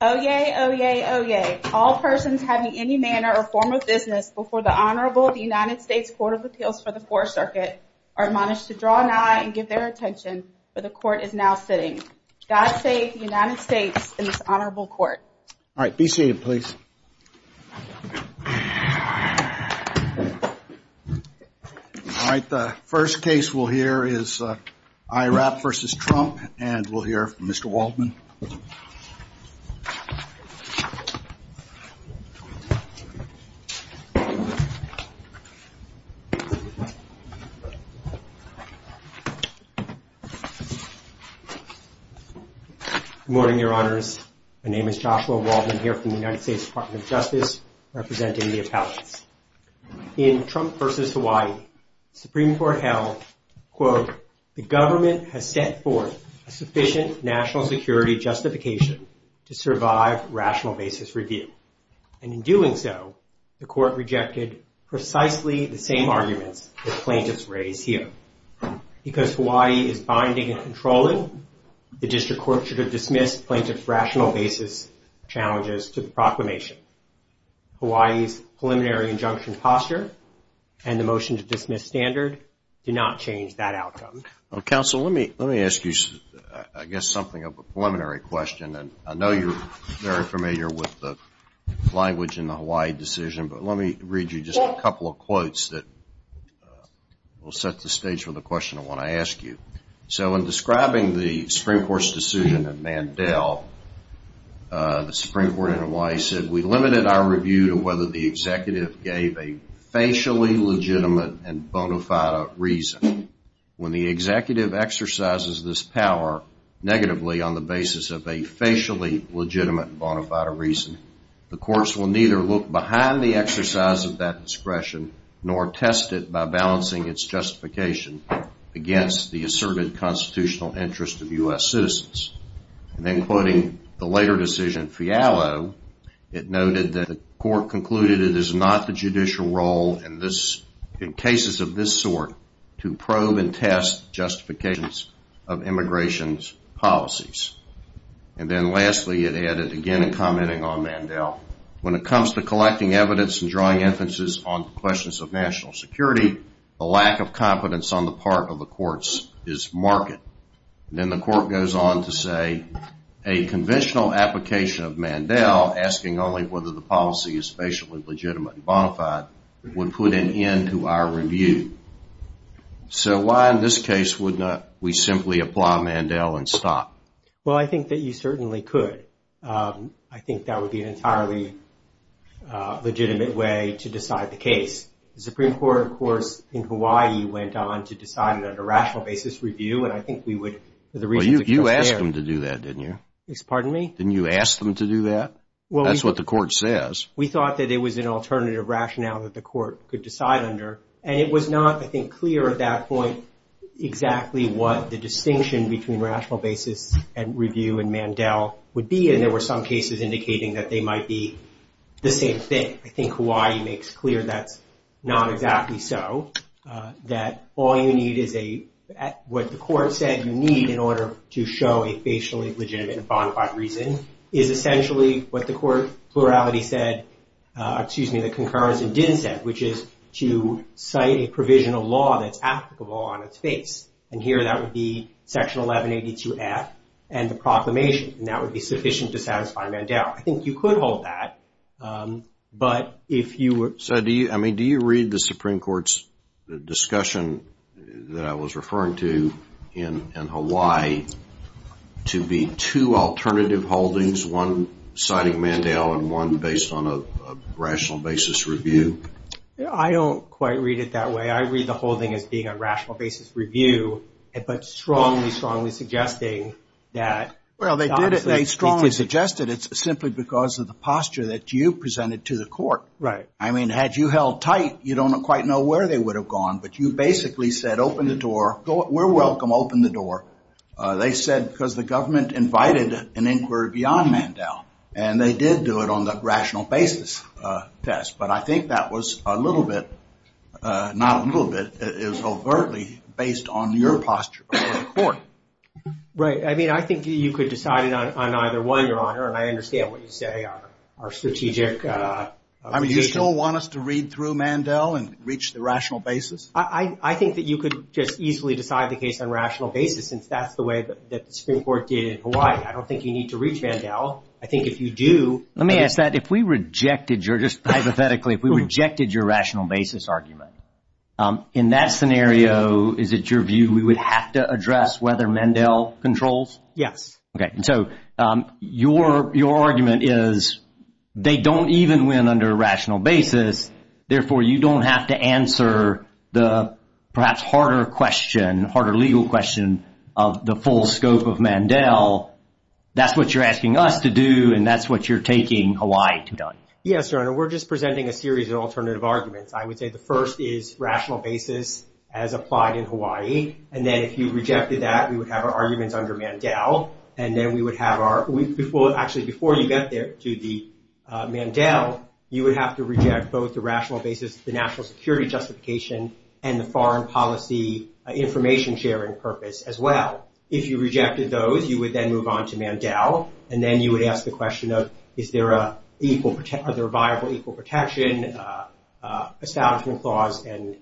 Oh yay, oh yay, oh yay. All persons having any manner or form of business before the Honorable United States Court of Appeals for the Fourth Circuit are admonished to draw an eye and give their attention where the Court is now sitting. God save the United States and this Honorable Court. All right, be seated please. All right, the first case we'll hear is IHRAP v. Trump and we'll hear from Mr. Waldman. Good morning, Your Honors. My name is Joshua Waldman here from the United States Department of Justice representing the appellants. In Trump v. Hawaii, Supreme Court held, quote, The government has set forth a sufficient national security justification to survive rational basis review. And in doing so, the court rejected precisely the same arguments that plaintiffs raise here. Because Hawaii is binding and controlling, the district court should have dismissed plaintiff's rational basis challenges to the proclamation. Hawaii's preliminary injunction posture and the motion to dismiss standard did not change that outcome. Counsel, let me ask you, I guess, something of a preliminary question. And I know you're very familiar with the language in the Hawaii decision. But let me read you just a couple of quotes that will set the stage for the question I want to ask you. So in describing the Supreme Court's decision in Mandel, the Supreme Court in Hawaii said, We limited our review to whether the executive gave a facially legitimate and bona fide reason. When the executive exercises this power negatively on the basis of a facially legitimate bona fide reason, the courts will neither look behind the exercise of that discretion nor test it by balancing its justification against the asserted constitutional interest of U.S. citizens. And then quoting the later decision, Fialo, it noted that the court concluded it is not the judicial role in cases of this sort to probe and test justifications of immigration policies. And then lastly, it added, again, in commenting on Mandel, when it comes to collecting evidence and drawing emphasis on questions of national security, the lack of competence on the part of the courts is marked. And then the court goes on to say, A conventional application of Mandel, asking only whether the policy is facially legitimate and bona fide, would put an end to our review. So why in this case would not we simply apply Mandel and stop? Well, I think that you certainly could. I think that would be an entirely legitimate way to decide the case. The Supreme Court, of course, in Hawaii went on to decide on a rational basis review. And I think we would. Well, you asked them to do that, didn't you? Pardon me? Didn't you ask them to do that? Well, that's what the court says. We thought that it was an alternative rationale that the court could decide under. And it was not, I think, clear at that point exactly what the distinction between rational basis review and Mandel would be. And there were some cases indicating that they might be the same thing. I think Hawaii makes clear that's not exactly so. That all you need is a, what the court said you need in order to show a facially legitimate and bona fide reason, is essentially what the court plurality said, excuse me, the concurrence didn't say, which is to cite a provisional law that's applicable on its face. And here that would be Section 1182F and the proclamation. And that would be sufficient to satisfy Mandel. I think you could hold that. But if you were. So do you, I mean, do you read the Supreme Court's discussion that I was referring to in Hawaii to be two alternative holdings, one citing Mandel and one based on a rational basis review? I don't quite read it that way. I read the holding as being a rational basis review, but strongly, strongly suggesting that. Well, they strongly suggested it's simply because of the posture that you presented to the court. Right. I mean, had you held tight, you don't quite know where they would have gone. But you basically said, open the door. We're welcome. Open the door. They said because the government invited an inquiry beyond Mandel. And they did do it on the rational basis test. But I think that was a little bit, not a little bit, it was overtly based on your posture. Right. I mean, I think you could decide it on either one, Your Honor. And I understand what you say on our strategic. I mean, you still want us to read through Mandel and reach the rational basis? I think that you could just easily decide the case on rational basis, since that's the way that the Supreme Court did in Hawaii. I don't think you need to reach Mandel. I think if you do. Let me ask that. If we rejected your, just hypothetically, if we rejected your rational basis argument, in that scenario, is it your view, we would have to address whether Mandel controls? Yes. Okay. So your argument is they don't even win under rational basis. Therefore, you don't have to answer the perhaps harder question, harder legal question of the full scope of Mandel. That's what you're asking us to do. And that's what you're taking Hawaii to do. Yes, Your Honor. We're just presenting a series of alternative arguments. I would say the first is rational basis as applied in Hawaii. And then if you rejected that, we would have our arguments under Mandel. And then we would have our, actually before you get there to the Mandel, you would have to reject both the rational basis, the national security justification, and the foreign policy information sharing purpose as well. If you rejected those, you would then move on to Mandel. And then you would ask the question of, is there a viable equal protection, establishment clause, and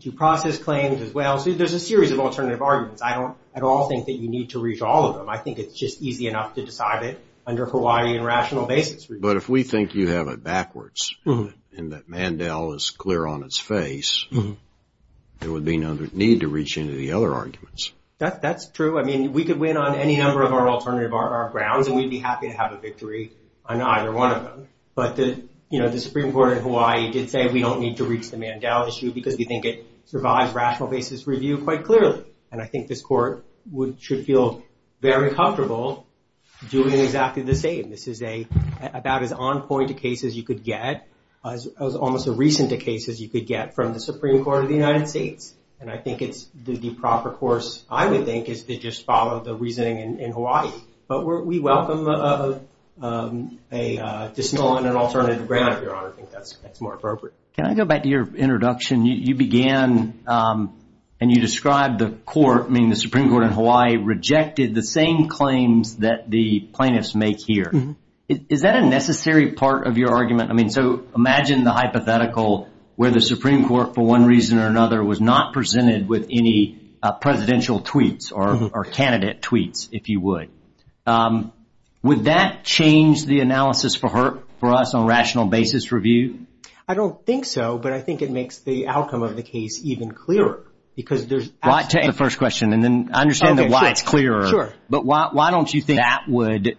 due process claims as well. So there's a series of alternative arguments. I don't at all think that you need to reach all of them. I think it's just easy enough to decide it under Hawaii and rational basis. But if we think you have it backwards, and that Mandel is clear on its face, there would be no need to reach into the other arguments. That's true. I mean, we could win on any number of our alternative grounds, and we'd be happy to have a victory on either one of them. But the Supreme Court in Hawaii did say we don't need to reach the Mandel issue because we think it survives rational basis review quite clearly. And I think this court should feel very comfortable doing exactly the same. This is about as on point a case as you could get, as almost as recent a case as you could get from the Supreme Court of the United States. And I think it's the proper course, I would think, is to just follow the reasoning in Hawaii. But we welcome a dismal and an alternative ground, Your Honor. I think that's more appropriate. Can I go back to your introduction? You began and you described the court, meaning the Supreme Court in Hawaii, rejected the same claims that the plaintiffs make here. Is that a necessary part of your argument? I mean, so imagine the hypothetical where the Supreme Court, for one reason or another, was not presented with any presidential tweets or candidate tweets, if you would. Would that change the analysis for us on rational basis review? I don't think so. But I think it makes the outcome of the case even clearer because there's. Why take the first question and then understand why it's clearer. Sure. But why don't you think that would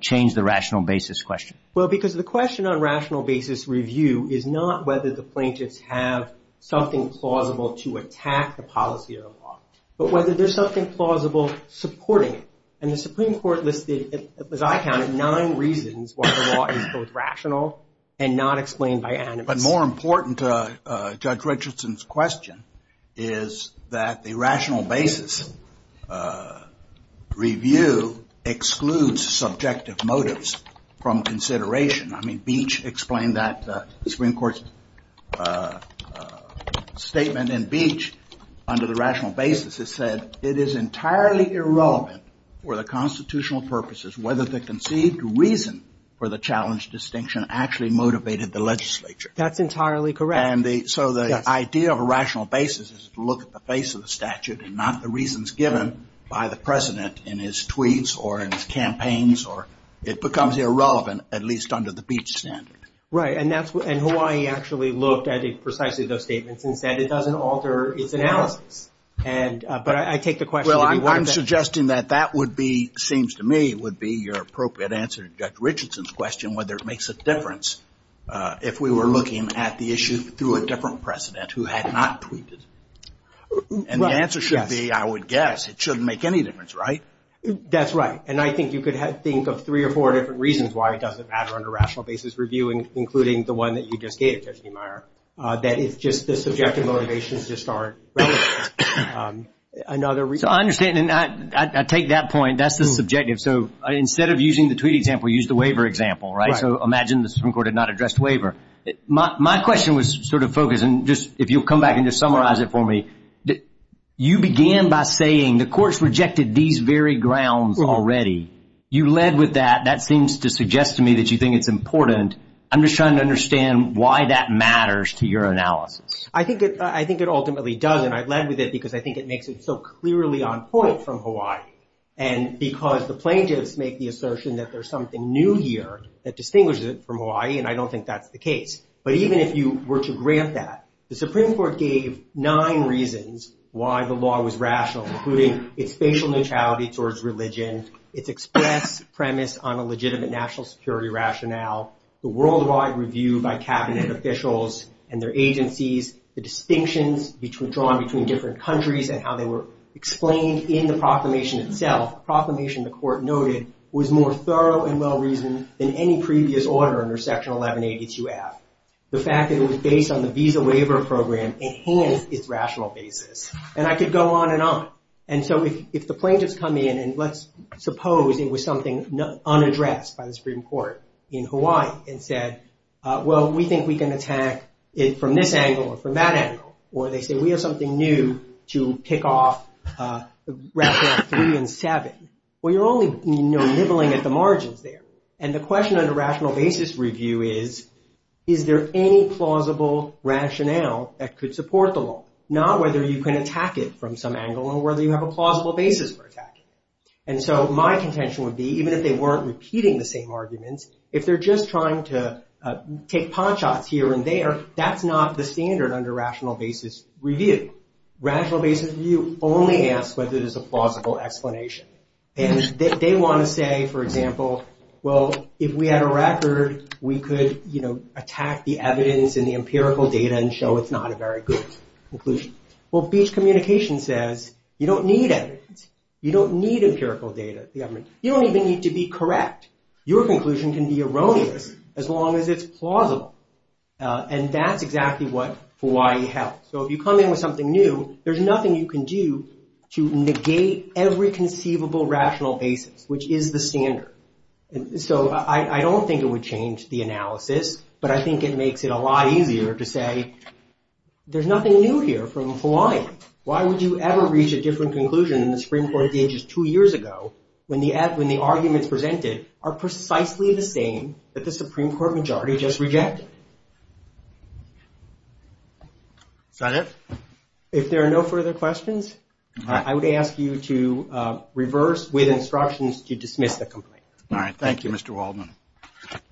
change the rational basis question? Well, because the question on rational basis review is not whether the plaintiffs have something plausible to attack the policy of the law, but whether there's something plausible supporting it. And the Supreme Court listed, as I counted, nine reasons why the law is both rational and not explained by animus. But more important to Judge Richardson's question is that the rational basis review excludes subjective motives from consideration. I mean, Beach explained that Supreme Court statement in Beach under the rational basis. It said it is entirely irrelevant for the constitutional purposes whether the conceived reason for the challenge distinction actually motivated the legislature. That's entirely correct. And so the idea of a rational basis is to look at the face of the statute and not the reasons given by the president in his tweets or in his campaigns. Or it becomes irrelevant, at least under the Beach standard. Right. And that's why he actually looked at it precisely those statements and said it doesn't alter its analysis. And but I take the question. Well, I'm suggesting that that would be seems to me would be your appropriate answer. Judge Richardson's question whether it makes a difference if we were looking at the issue through a different precedent who had not tweeted. And the answer should be, I would guess it shouldn't make any difference. Right. That's right. And I think you could think of three or four different reasons why it doesn't matter under rational basis reviewing, including the one that you just gave, Judge Niemeyer, that is just the subjective motivations just aren't relevant. Another reason. I understand. And I take that point. That's the subjective. So instead of using the tweet example, use the waiver example. Right. So imagine the Supreme Court had not addressed waiver. My question was sort of focused. And just if you'll come back and just summarize it for me. You began by saying the courts rejected these very grounds already. You led with that. That seems to suggest to me that you think it's important. I'm just trying to understand why that matters to your analysis. I think it ultimately does. And I led with it because I think it makes it so clearly on point from Hawaii. And because the plaintiffs make the assertion that there's something new here that distinguishes it from Hawaii. And I don't think that's the case. But even if you were to grant that, the Supreme Court gave nine reasons why the law was rational, including its spatial neutrality towards religion, its express premise on a legitimate national security rationale, the worldwide review by cabinet officials and their agencies, the distinctions drawn between different countries and how they were explained in the proclamation itself, a proclamation the court noted was more thorough and well-reasoned than any previous order under Section 1182-F. The fact that it was based on the Visa Waiver Program enhanced its rational basis. And I could go on and on. And so if the plaintiffs come in and let's suppose it was something unaddressed by the Supreme Court in Hawaii and said, well, we think we can attack it from this angle or from that angle. Or they say, we have something new to pick off Rats 3 and 7. Well, you're only nibbling at the margins there. And the question under rational basis review is, is there any plausible rationale that could support the law? Not whether you can attack it from some angle or whether you have a plausible basis for attacking it. And so my contention would be, even if they weren't repeating the same arguments, if they're just trying to take paw shots here and there, that's not the standard under rational basis review. Rational basis review only asks whether there's a plausible explanation. And they want to say, for example, well, if we had a record, we could attack the evidence and the empirical data and show it's not a very good conclusion. Well, beach communication says you don't need it. You don't need empirical data. You don't even need to be correct. Your conclusion can be erroneous as long as it's plausible. And that's exactly what Hawaii held. So if you come in with something new, there's nothing you can do to negate every conceivable rational basis, which is the standard. So I don't think it would change the analysis. But I think it makes it a lot easier to say there's nothing new here from Hawaii. Why would you ever reach a different conclusion in the Supreme Court of the Ages two years ago when the arguments presented are precisely the same that the Supreme Court majority just rejected? Is that it? If there are no further questions, I would ask you to reverse with instructions to dismiss the complaint. All right. Thank you, Mr. Waldman.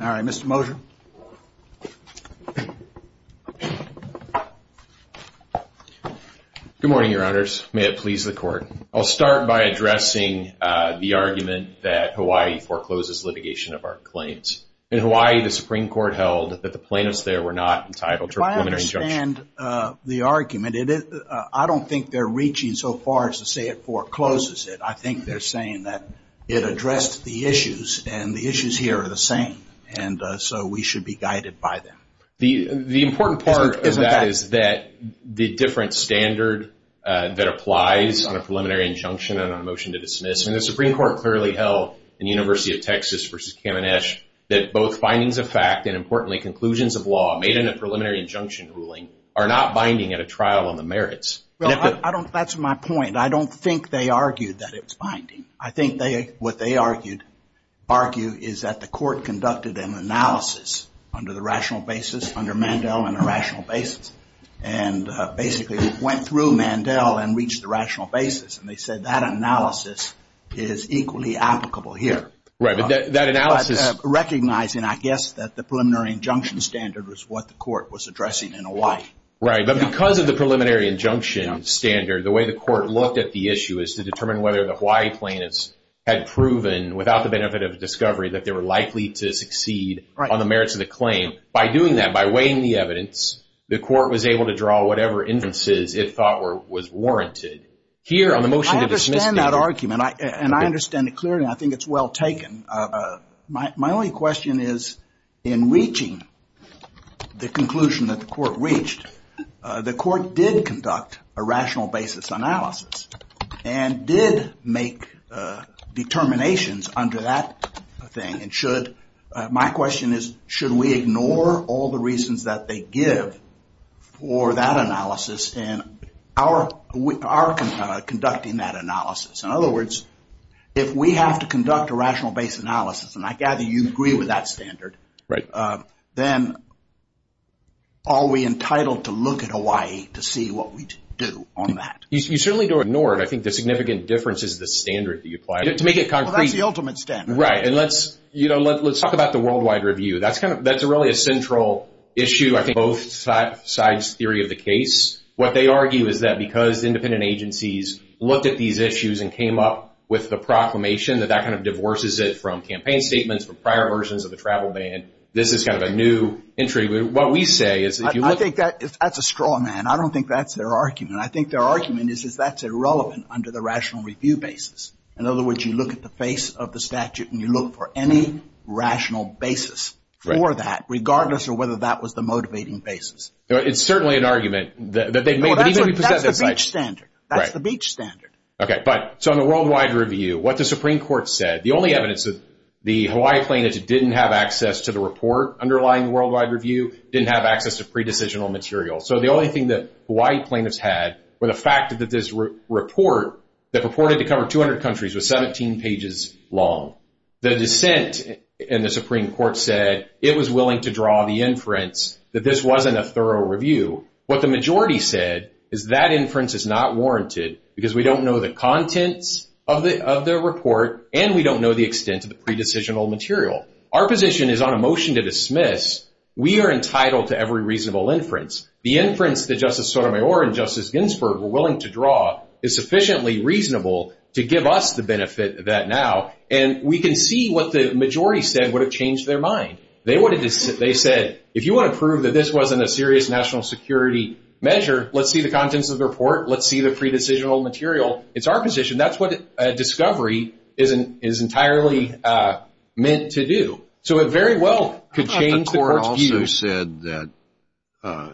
All right. Mr. Mosher. Good morning, Your Honors. May it please the Court. I'll start by addressing the argument that Hawaii forecloses litigation of our claims. In Hawaii, the Supreme Court held that the plaintiffs there were not entitled to a preliminary injunction. If I understand the argument, I don't think they're reaching so far as to say it forecloses it. I think they're saying that it addressed the issues, and the issues here are the same. And so we should be guided by them. The important part of that is that the different standard that applies on a preliminary injunction and on a motion to dismiss, and the Supreme Court clearly held in University of Texas v. Caminesh, that both findings of fact and, importantly, conclusions of law made in a preliminary injunction ruling are not binding at a trial on the merits. That's my point. I don't think they argued that it was binding. I think what they argued is that the Court conducted an analysis under the rational basis, under Mandel on a rational basis, and basically went through Mandel and reached the rational basis. And they said that analysis is equally applicable here. Right. But that analysis... Recognizing, I guess, that the preliminary injunction standard was what the Court was addressing in Hawaii. Right. But because of the preliminary injunction standard, the way the Court looked at the issue is to determine whether the Hawaii plaintiffs had proven, without the benefit of discovery, that they were likely to succeed on the merits of the claim. By doing that, by weighing the evidence, the Court was able to draw whatever inferences it thought was warranted. Here, on the motion to dismiss... I understand that argument, and I understand it clearly. I think it's well taken. My only question is, in reaching the conclusion that the Court reached, the Court did conduct a rational basis analysis, and did make determinations under that thing. My question is, should we ignore all the reasons that they give for that analysis, and are conducting that analysis? In other words, if we have to conduct a rational basis analysis, and I gather you agree with that standard, then are we entitled to look at Hawaii to see what we do on that? You certainly don't ignore it. I think the significant difference is the standard that you apply. To make it concrete... Well, that's the ultimate standard. Right. And let's talk about the worldwide review. That's really a central issue of both sides' theory of the case. What they argue is that because independent agencies looked at these issues and came up with the proclamation, that that kind of divorces it from campaign statements, from prior versions of the travel ban. This is kind of a new entry. What we say is... I think that's a straw man. I don't think that's their argument. I think their argument is that that's irrelevant under the rational review basis. In other words, you look at the face of the statute, and you look for any rational basis for that, regardless of whether that was the motivating basis. It's certainly an argument that they may... That's the beach standard. Right. That's the beach standard. Okay. So in the worldwide review, what the Supreme Court said, the only evidence that the Hawaii plaintiffs didn't have access to the report underlying the worldwide review, didn't have access to pre-decisional material. So the only thing that Hawaii plaintiffs had were the fact that this report, that purported to cover 200 countries, was 17 pages long. The dissent in the Supreme Court said it was willing to draw the inference that this wasn't a thorough review. What the majority said is that inference is not warranted because we don't know the contents of the report, and we don't know the extent of the pre-decisional material. Our position is on a motion to dismiss. We are entitled to every reasonable inference. The inference that Justice Sotomayor and Justice Ginsburg were willing to draw is sufficiently reasonable to give us the benefit of that now. And we can see what the majority said would have changed their mind. They said, if you want to prove that this wasn't a serious national security measure, let's see the contents of the report. Let's see the pre-decisional material. It's our position. That's what a discovery is entirely meant to do. So it very well could change the court's view. The court also said that,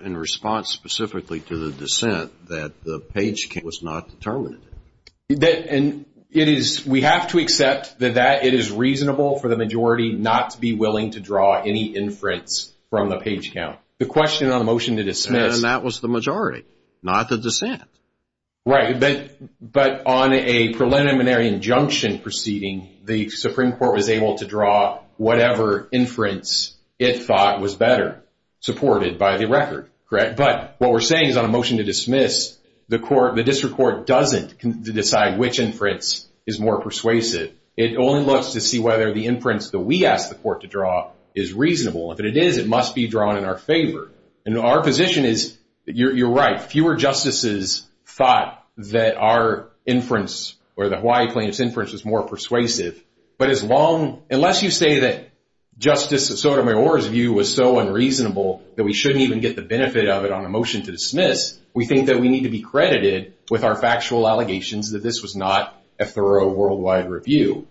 in response specifically to the dissent, that the page was not determinate. And we have to accept that it is reasonable for the majority not to be willing to draw any inference from the page count. The question on the motion to dismiss. And that was the majority, not the dissent. Right. But on a preliminary injunction proceeding, the Supreme Court was able to draw whatever inference it thought was better, supported by the record, correct? But what we're saying is on a motion to dismiss, the district court doesn't decide which inference is more persuasive. It only looks to see whether the inference that we asked the court to draw is reasonable. If it is, it must be drawn in our favor. And our position is you're right. Fewer justices thought that our inference or the Hawaii plaintiff's inference was more persuasive. But as long, unless you say that Justice Sotomayor's view was so unreasonable that we shouldn't even get the benefit of it on a motion to dismiss, we think that we need to be credited with our factual allegations that this was not a thorough worldwide review.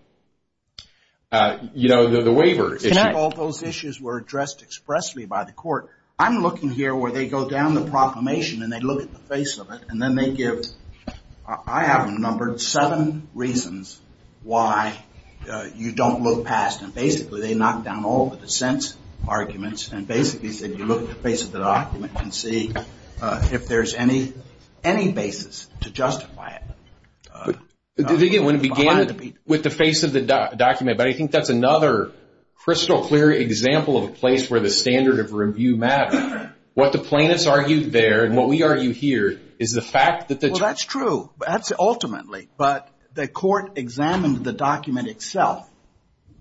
You know, the waiver issue. All those issues were addressed expressly by the court. I'm looking here where they go down the proclamation and they look at the face of it and then they give, I have numbered seven reasons why you don't look past and basically they knock down all the dissent arguments and basically said you look at the face of the document and see if there's any basis to justify it. When it began with the face of the document, but I think that's another crystal clear example of a place where the standard of review matters. What the plaintiffs argued there and what we argue here is the fact that the- Well, that's true. That's ultimately. But the court examined the document itself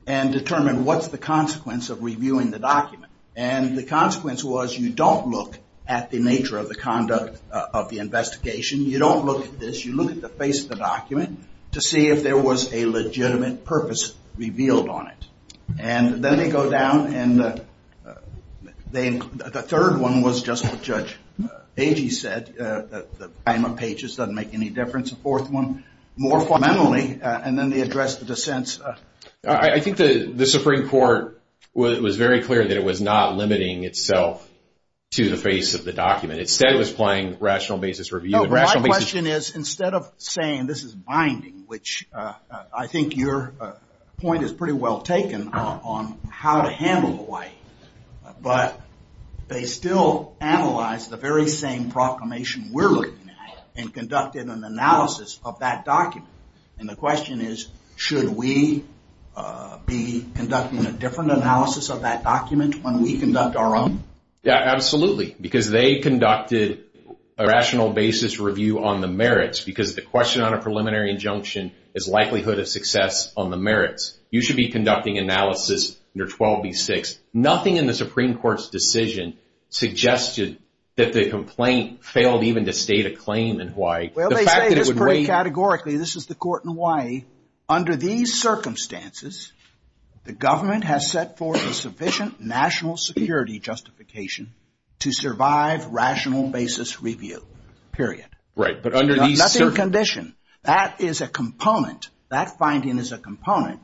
and determined what's the consequence of reviewing the document. And the consequence was you don't look at the nature of the conduct of the investigation. You don't look at this. You look at the face of the document to see if there was a legitimate purpose revealed on it. And then they go down and the third one was just what Judge Pagey said. The time of pages doesn't make any difference. The fourth one, more fundamentally, and then they address the dissents. I think the Supreme Court was very clear that it was not limiting itself to the face of the document. Instead it was playing rational basis review. My question is, instead of saying this is binding, which I think your point is pretty well taken on how to handle Hawaii. But they still analyze the very same proclamation we're looking at and conducted an analysis of that document. And the question is, should we be conducting a different analysis of that document when we conduct our own? Yeah, absolutely. Because they conducted a rational basis review on the merits. Because the question on a preliminary injunction is likelihood of success on the merits. You should be conducting analysis under 12B6. Nothing in the Supreme Court's decision suggested that the complaint failed even to state a claim in Hawaii. Well, they say this pretty categorically. This is the court in Hawaii. Under these circumstances, the government has set forth a sufficient national security justification to survive rational basis review. Period. Right. But under these circumstances. Nothing in condition. That is a component. That finding is a component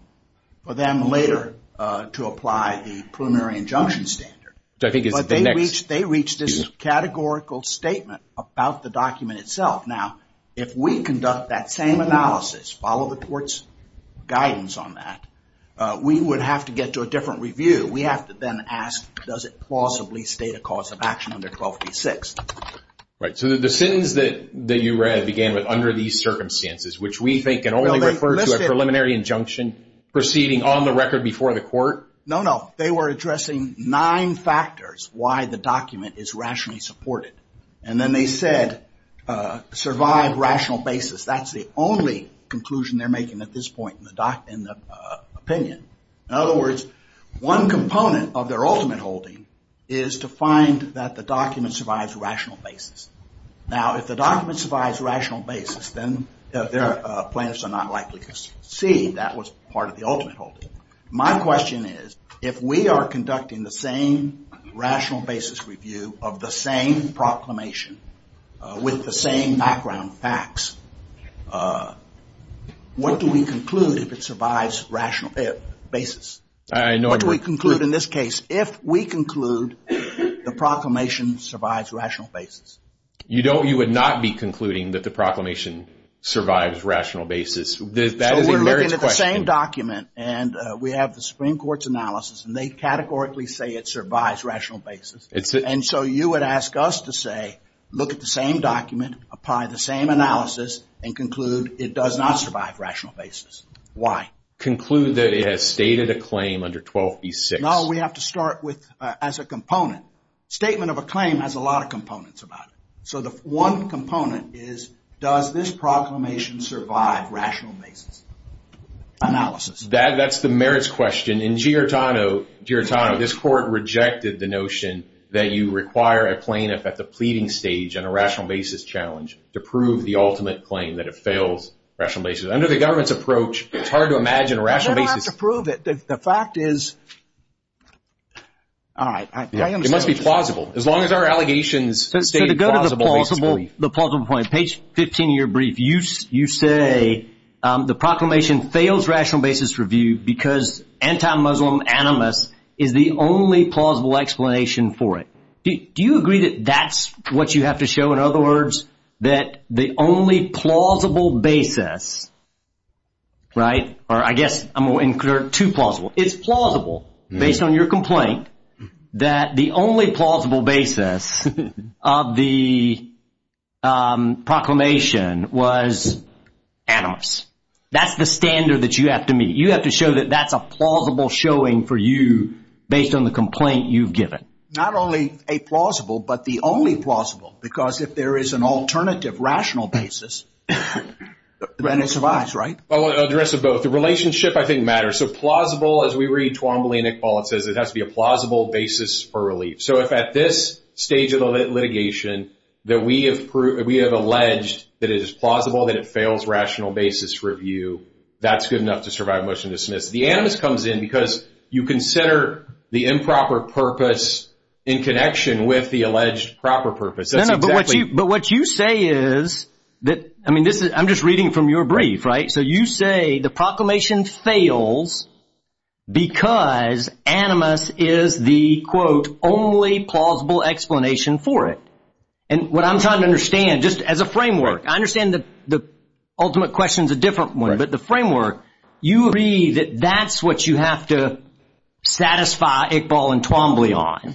for them later to apply the preliminary injunction standard. They reached this categorical statement about the document itself. Now, if we conduct that same analysis, follow the court's guidance on that, we would have to get to a different review. We have to then ask, does it plausibly state a cause of action under 12B6? Right. So the sentence that you read began with, under these circumstances, which we think can only refer to a preliminary injunction proceeding on the record before the court. No, no. They were addressing nine factors why the document is rationally supported. And then they said, survive rational basis. That's the only conclusion they're making at this point in the opinion. In other words, one component of their ultimate holding is to find that the document survives rational basis. Now, if the document survives rational basis, then their plaintiffs are not likely to see that was part of the ultimate holding. My question is, if we are conducting the same rational basis review of the same proclamation with the same background facts, what do we conclude if it survives rational basis? What do we conclude in this case if we conclude the proclamation survives rational basis? You would not be concluding that the proclamation survives rational basis. That is a merits question. So we're looking at the same document, and we have the Supreme Court's analysis, and they categorically say it survives rational basis. And so you would ask us to say, look at the same document, apply the same analysis, and conclude it does not survive rational basis. Why? Conclude that it has stated a claim under 12B6. No, we have to start with as a component. Statement of a claim has a lot of components about it. So the one component is, does this proclamation survive rational basis analysis? That's the merits question. In Giortano, this court rejected the notion that you require a plaintiff at the pleading stage on a rational basis challenge to prove the ultimate claim that it fails rational basis. Under the government's approach, it's hard to imagine a rational basis. I'm going to have to prove it. The fact is, all right, I understand what you're saying. It must be plausible. As long as our allegations state it's plausible. So to go to the plausible point, page 15 of your brief, you say the proclamation fails rational basis review because anti-Muslim animus is the only plausible explanation for it. Do you agree that that's what you have to show? In other words, that the only plausible basis, right, or I guess I'm going to include two plausible. It's plausible based on your complaint that the only plausible basis of the proclamation was animus. That's the standard that you have to meet. You have to show that that's a plausible showing for you based on the complaint you've given. Not only a plausible, but the only plausible, because if there is an alternative rational basis, then it survives, right? I want to address both. The relationship, I think, matters. So plausible, as we read Twombly and Iqbal, it says it has to be a plausible basis for relief. So if at this stage of the litigation that we have alleged that it is plausible, that it fails rational basis review, that's good enough to survive motion to dismiss. The animus comes in because you consider the improper purpose in connection with the alleged proper purpose. No, no, but what you say is that, I mean, I'm just reading from your brief, right? So you say the proclamation fails because animus is the, quote, only plausible explanation for it. And what I'm trying to understand, just as a framework, I understand that the ultimate question is a different one, but the framework, you agree that that's what you have to satisfy Iqbal and Twombly on,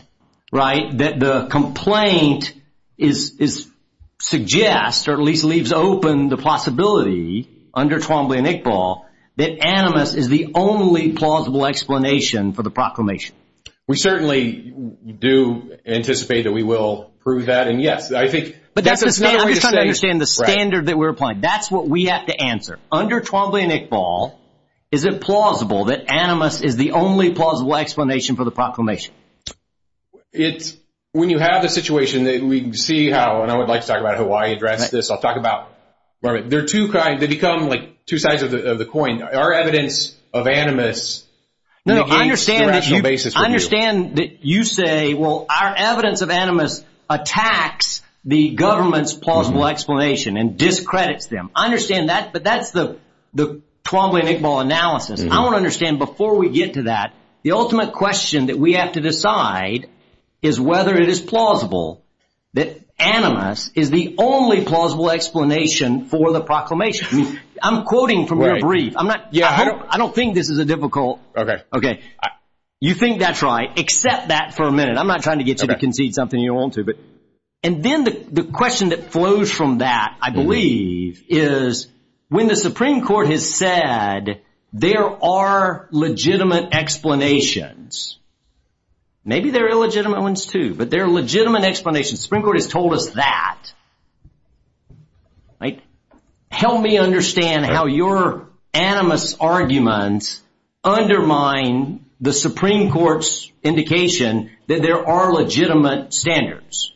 right? That the complaint suggests, or at least leaves open the possibility under Twombly and Iqbal, that animus is the only plausible explanation for the proclamation. We certainly do anticipate that we will prove that, and yes, I think that's another way to say it. I'm just trying to understand the standard that we're applying. That's what we have to answer. Under Twombly and Iqbal, is it plausible that animus is the only plausible explanation for the proclamation? It's, when you have the situation that we see how, and I would like to talk about how I address this, I'll talk about, they're two kinds, they become like two sides of the coin. Our evidence of animus, No, no, I understand that you say, well, our evidence of animus attacks the government's plausible explanation and discredits them. I understand that, but that's the Twombly and Iqbal analysis. I want to understand, before we get to that, the ultimate question that we have to decide is whether it is plausible that animus is the only plausible explanation for the proclamation. I'm quoting from your brief. I don't think this is a difficult, you think that's right, accept that for a minute. I'm not trying to get you to concede something you don't want to. And then the question that flows from that, I believe, is when the Supreme Court has said there are legitimate explanations, maybe they're illegitimate ones too, but they're legitimate explanations. The Supreme Court has told us that. Help me understand how your animus arguments undermine the Supreme Court's indication that there are legitimate standards.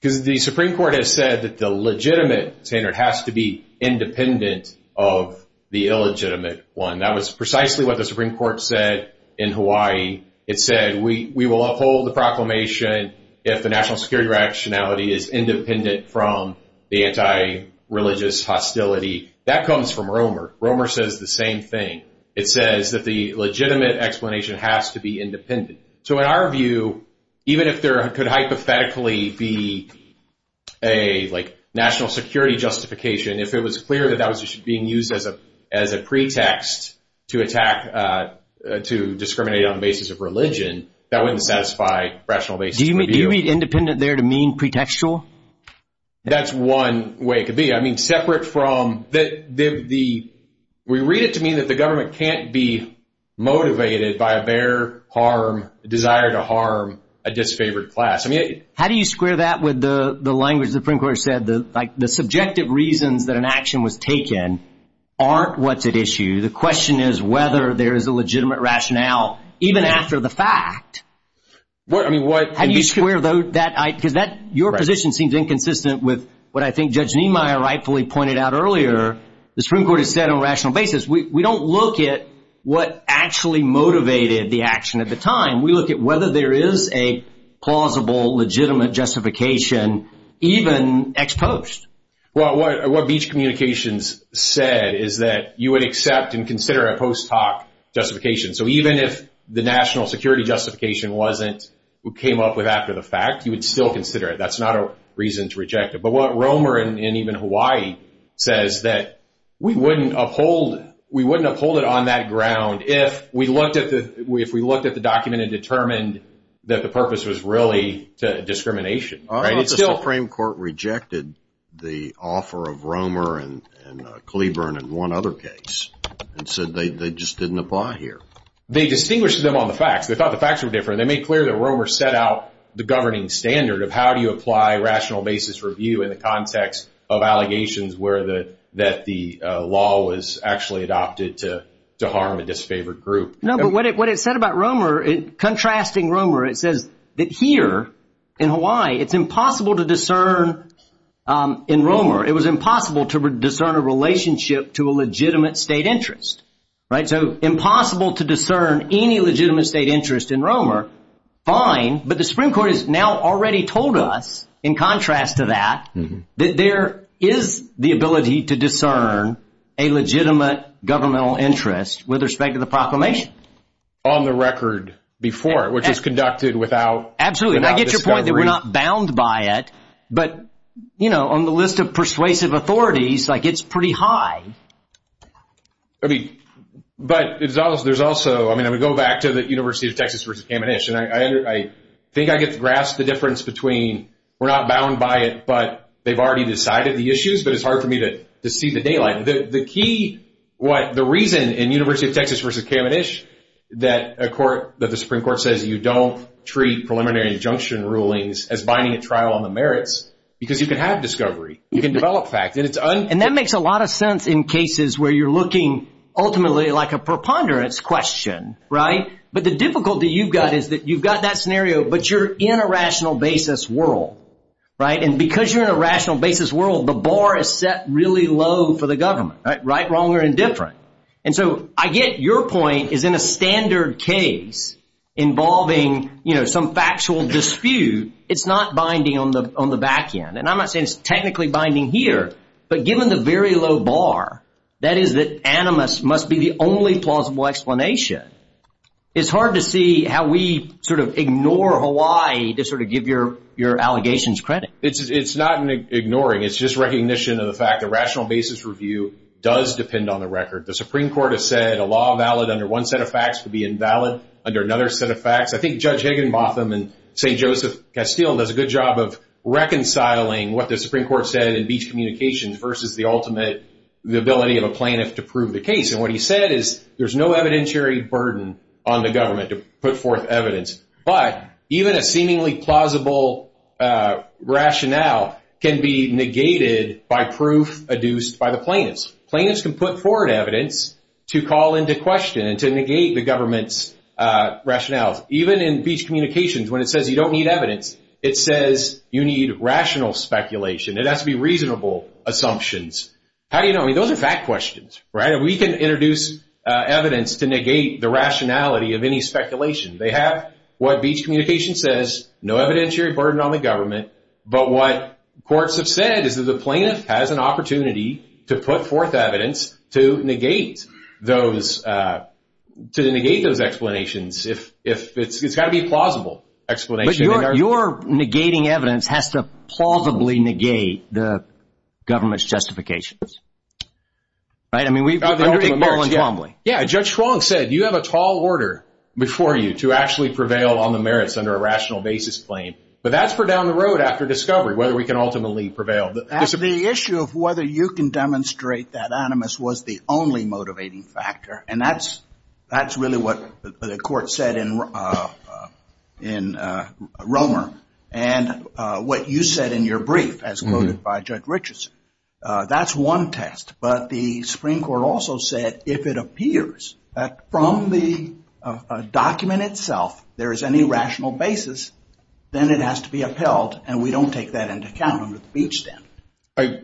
Because the Supreme Court has said that the legitimate standard has to be independent of the illegitimate one. That was precisely what the Supreme Court said in Hawaii. It said we will uphold the proclamation if the national security rationality is independent from the anti-religious hostility. That comes from Romer. Romer says the same thing. It says that the legitimate explanation has to be independent. So in our view, even if there could hypothetically be a national security justification, if it was clear that that was being used as a pretext to attack, to discriminate on the basis of religion, that wouldn't satisfy rational basis of view. Do you mean independent there to mean pretextual? That's one way it could be. I mean, separate from the, we read it to mean that the government can't be motivated by a bare harm, desire to harm a disfavored class. How do you square that with the language the Supreme Court said? The subjective reasons that an action was taken aren't what's at issue. The question is whether there is a legitimate rationale, even after the fact. How do you square that? Because your position seems inconsistent with what I think Judge Niemeyer rightfully pointed out earlier. The Supreme Court has said on a rational basis, we don't look at what actually motivated the action at the time. We look at whether there is a plausible, legitimate justification, even ex post. Well, what Beach Communications said is that you would accept and consider a post hoc justification. So even if the national security justification wasn't, came up with after the fact, you would still consider it. That's not a reason to reject it. But what Romer and even Hawaii says that we wouldn't uphold it on that ground if we looked at the document and determined that the purpose was really discrimination. I don't know if the Supreme Court rejected the offer of Romer and Cleburne in one other case and said they just didn't apply here. They distinguished them on the facts. They thought the facts were different. They made clear that Romer set out the governing standard of how do you apply rational basis review in the context of allegations where the that the law was actually adopted to to harm a disfavored group. No, but what it what it said about Romer, contrasting Romer, it says that here in Hawaii, it's impossible to discern in Romer. It was impossible to discern a relationship to a legitimate state interest. Right. So impossible to discern any legitimate state interest in Romer. Fine. But the Supreme Court has now already told us, in contrast to that, that there is the ability to discern a legitimate governmental interest with respect to the proclamation on the record before it, which is conducted without. Absolutely. I get your point that we're not bound by it, but, you know, on the list of persuasive authorities like it's pretty high. I mean, but it's also there's also I mean, I would go back to the University of Texas versus Kamenish. And I think I get to grasp the difference between we're not bound by it, but they've already decided the issues. But it's hard for me to see the daylight. The key what the reason in University of Texas versus Kamenish that a court that the Supreme Court says you don't treat preliminary injunction rulings as binding a trial on the merits because you can have discovery. You can develop fact that it's and that makes a lot of sense in cases where you're looking ultimately like a preponderance question. Right. But the difficulty you've got is that you've got that scenario, but you're in a rational basis world. Right. And because you're in a rational basis world, the bar is set really low for the government. Right. Wrong or indifferent. And so I get your point is in a standard case involving some factual dispute. It's not binding on the on the back end. And I'm not saying it's technically binding here. But given the very low bar, that is that animus must be the only plausible explanation. It's hard to see how we sort of ignore Hawaii to sort of give your your allegations credit. It's not ignoring. It's just recognition of the fact that rational basis review does depend on the record. The Supreme Court has said a law valid under one set of facts would be invalid under another set of facts. I think Judge Higginbotham and St. Joseph Castile does a good job of reconciling what the Supreme Court said in Beach Communications versus the ultimate the ability of a plaintiff to prove the case. And what he said is there's no evidentiary burden on the government to put forth evidence. But even a seemingly plausible rationale can be negated by proof adduced by the plaintiffs. Plaintiffs can put forward evidence to call into question and to negate the government's rationales. Even in Beach Communications, when it says you don't need evidence, it says you need rational speculation. It has to be reasonable assumptions. How do you know? I mean, those are fact questions, right? We can introduce evidence to negate the rationality of any speculation. They have what Beach Communications says, no evidentiary burden on the government. But what courts have said is that the plaintiff has an opportunity to put forth evidence to negate those explanations. It's got to be a plausible explanation. But you're negating evidence has to plausibly negate the government's justifications, right? I mean, we've heard that all along. Yeah, Judge Schwong said you have a tall order before you to actually prevail on the merits under a rational basis claim. But that's for down the road after discovery, whether we can ultimately prevail. The issue of whether you can demonstrate that animus was the only motivating factor. And that's really what the court said in Romer and what you said in your brief as quoted by Judge Richardson. That's one test. But the Supreme Court also said if it appears that from the document itself there is any rational basis, then it has to be upheld and we don't take that into account under the Beach standard.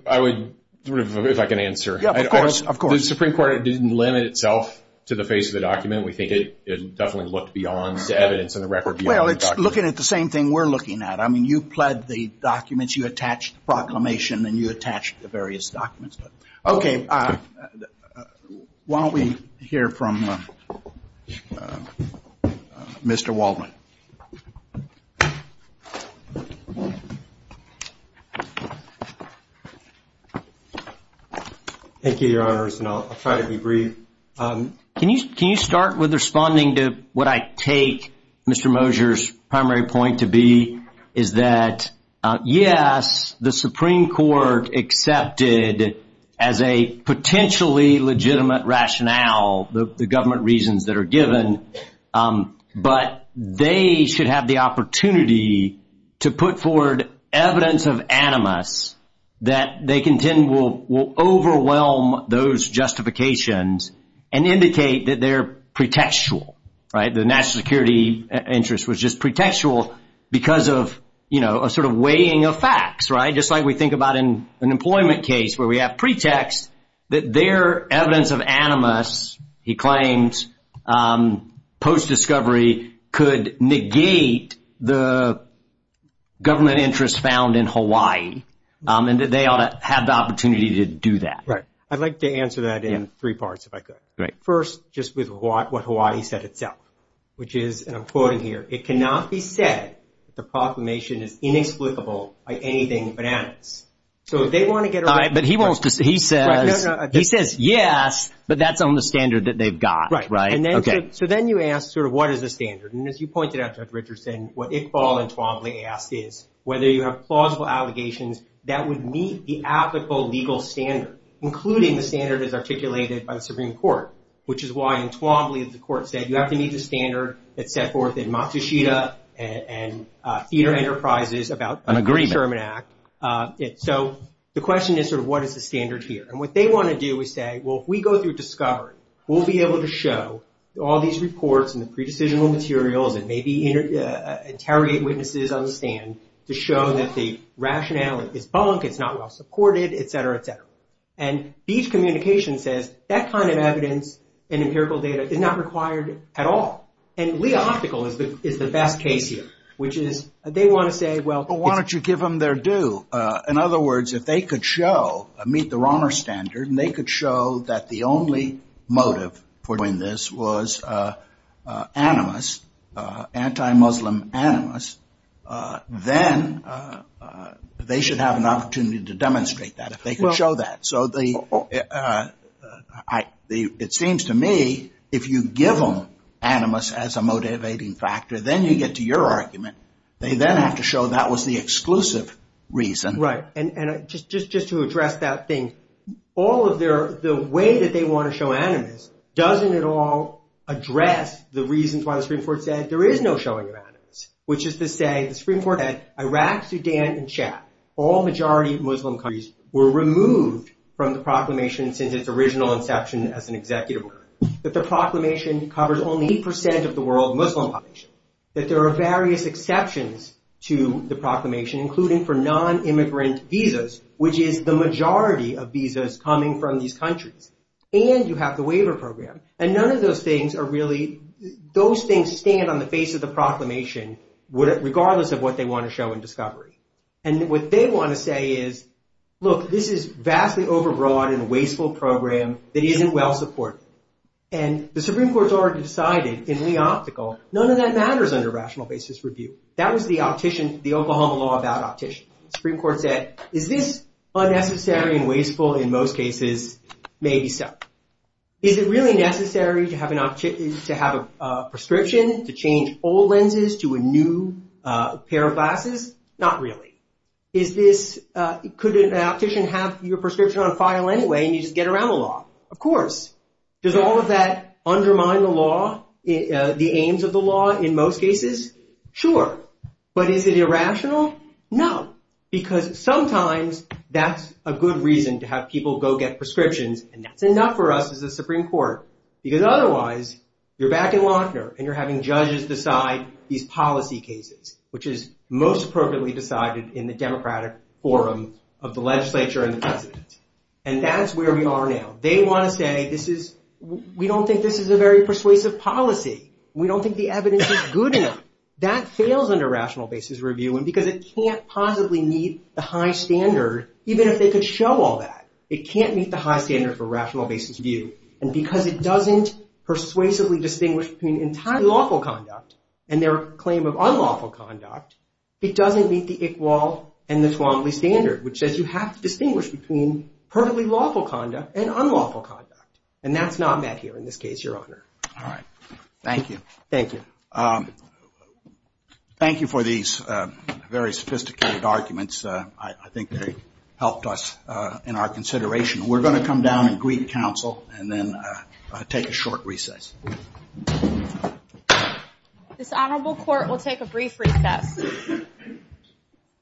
I would, if I can answer. Of course, of course. The Supreme Court didn't limit itself to the face of the document. We think it definitely looked beyond the evidence and the record. Well, it's looking at the same thing we're looking at. I mean, you pled the documents, you attach the proclamation, and you attach the various documents. Okay. Why don't we hear from Mr. Waldman. Thank you, Your Honors, and I'll try to be brief. Can you start with responding to what I take Mr. Moser's primary point to be? Is that, yes, the Supreme Court accepted as a potentially legitimate rationale the government reasons that are given. But they should have the opportunity to put forward evidence of animus that they contend will overwhelm those justifications and indicate that they're pretextual. Right. The national security interest was just pretextual because of, you know, a sort of weighing of facts. Right. Just like we think about in an employment case where we have pretext that their evidence of animus, he claims, post-discovery could negate the government interest found in Hawaii and that they ought to have the opportunity to do that. Right. I'd like to answer that in three parts, if I could. Right. First, just with what Hawaii said itself, which is, and I'm quoting here, it cannot be said that the proclamation is inexplicable by anything but animus. So they want to get. All right. But he won't. He says. He says, yes, but that's on the standard that they've got. Right. Right. OK. So then you ask sort of what is the standard? And as you pointed out, Judge Richardson, what Iqbal and Twombly asked is whether you have plausible allegations that would meet the applicable legal standard, including the standard as articulated by the Supreme Court, which is why in Twombly, the court said you have to meet the standard that's set forth in Matsushita and Theater Enterprises about the Sherman Act. An agreement. So the question is sort of what is the standard here? And what they want to do is say, well, if we go through discovery, we'll be able to show all these reports and the pre-decisional materials and maybe interrogate witnesses on the stand to show that the rationale is bunk, it's not well supported, et cetera, et cetera. And these communications says that kind of evidence and empirical data is not required at all. And Leo Optical is the is the best case here, which is they want to say, well, why don't you give them their due? In other words, if they could show a meet the Romer standard and they could show that the only motive for doing this was animus, anti-Muslim animus, then they should have an opportunity to demonstrate that. They can show that. So it seems to me if you give them animus as a motivating factor, then you get to your argument. They then have to show that was the exclusive reason. Right. And just just just to address that thing, all of their the way that they want to show animus doesn't at all address the reasons why the Supreme Court said there is no showing of animus, which is to say the Supreme Court had Iraq, Sudan and Chad. All majority Muslim countries were removed from the proclamation since its original inception as an executive order. But the proclamation covers only percent of the world Muslim population, that there are various exceptions to the proclamation, including for non-immigrant visas, which is the majority of visas coming from these countries. And you have the waiver program. And none of those things are really those things stand on the face of the proclamation, regardless of what they want to show in discovery. And what they want to say is, look, this is vastly overbroad and wasteful program that isn't well supported. And the Supreme Court's already decided in the optical. None of that matters under rational basis review. That was the optician, the Oklahoma law about optician. Supreme Court said, is this unnecessary and wasteful? In most cases, maybe so. Is it really necessary to have an opportunity to have a prescription to change old lenses to a new pair of glasses? Not really. Is this, could an optician have your prescription on file anyway and you just get around the law? Of course. Does all of that undermine the law, the aims of the law in most cases? Sure. But is it irrational? No. Because sometimes that's a good reason to have people go get prescriptions. And that's enough for us as a Supreme Court. Because otherwise, you're back in Lochner and you're having judges decide these policy cases, which is most appropriately decided in the democratic forum of the legislature and the president. And that's where we are now. They want to say, we don't think this is a very persuasive policy. We don't think the evidence is good enough. That fails under rational basis review because it can't possibly meet the high standard, even if they could show all that. It can't meet the high standard for rational basis review. And because it doesn't persuasively distinguish between entirely lawful conduct and their claim of unlawful conduct, it doesn't meet the Iqbal and the Twombly standard, which says you have to distinguish between perfectly lawful conduct and unlawful conduct. And that's not met here in this case, Your Honor. All right. Thank you. Thank you. Thank you for these very sophisticated arguments. I think they helped us in our consideration. We're going to come down and greet counsel and then take a short recess. This honorable court will take a brief recess.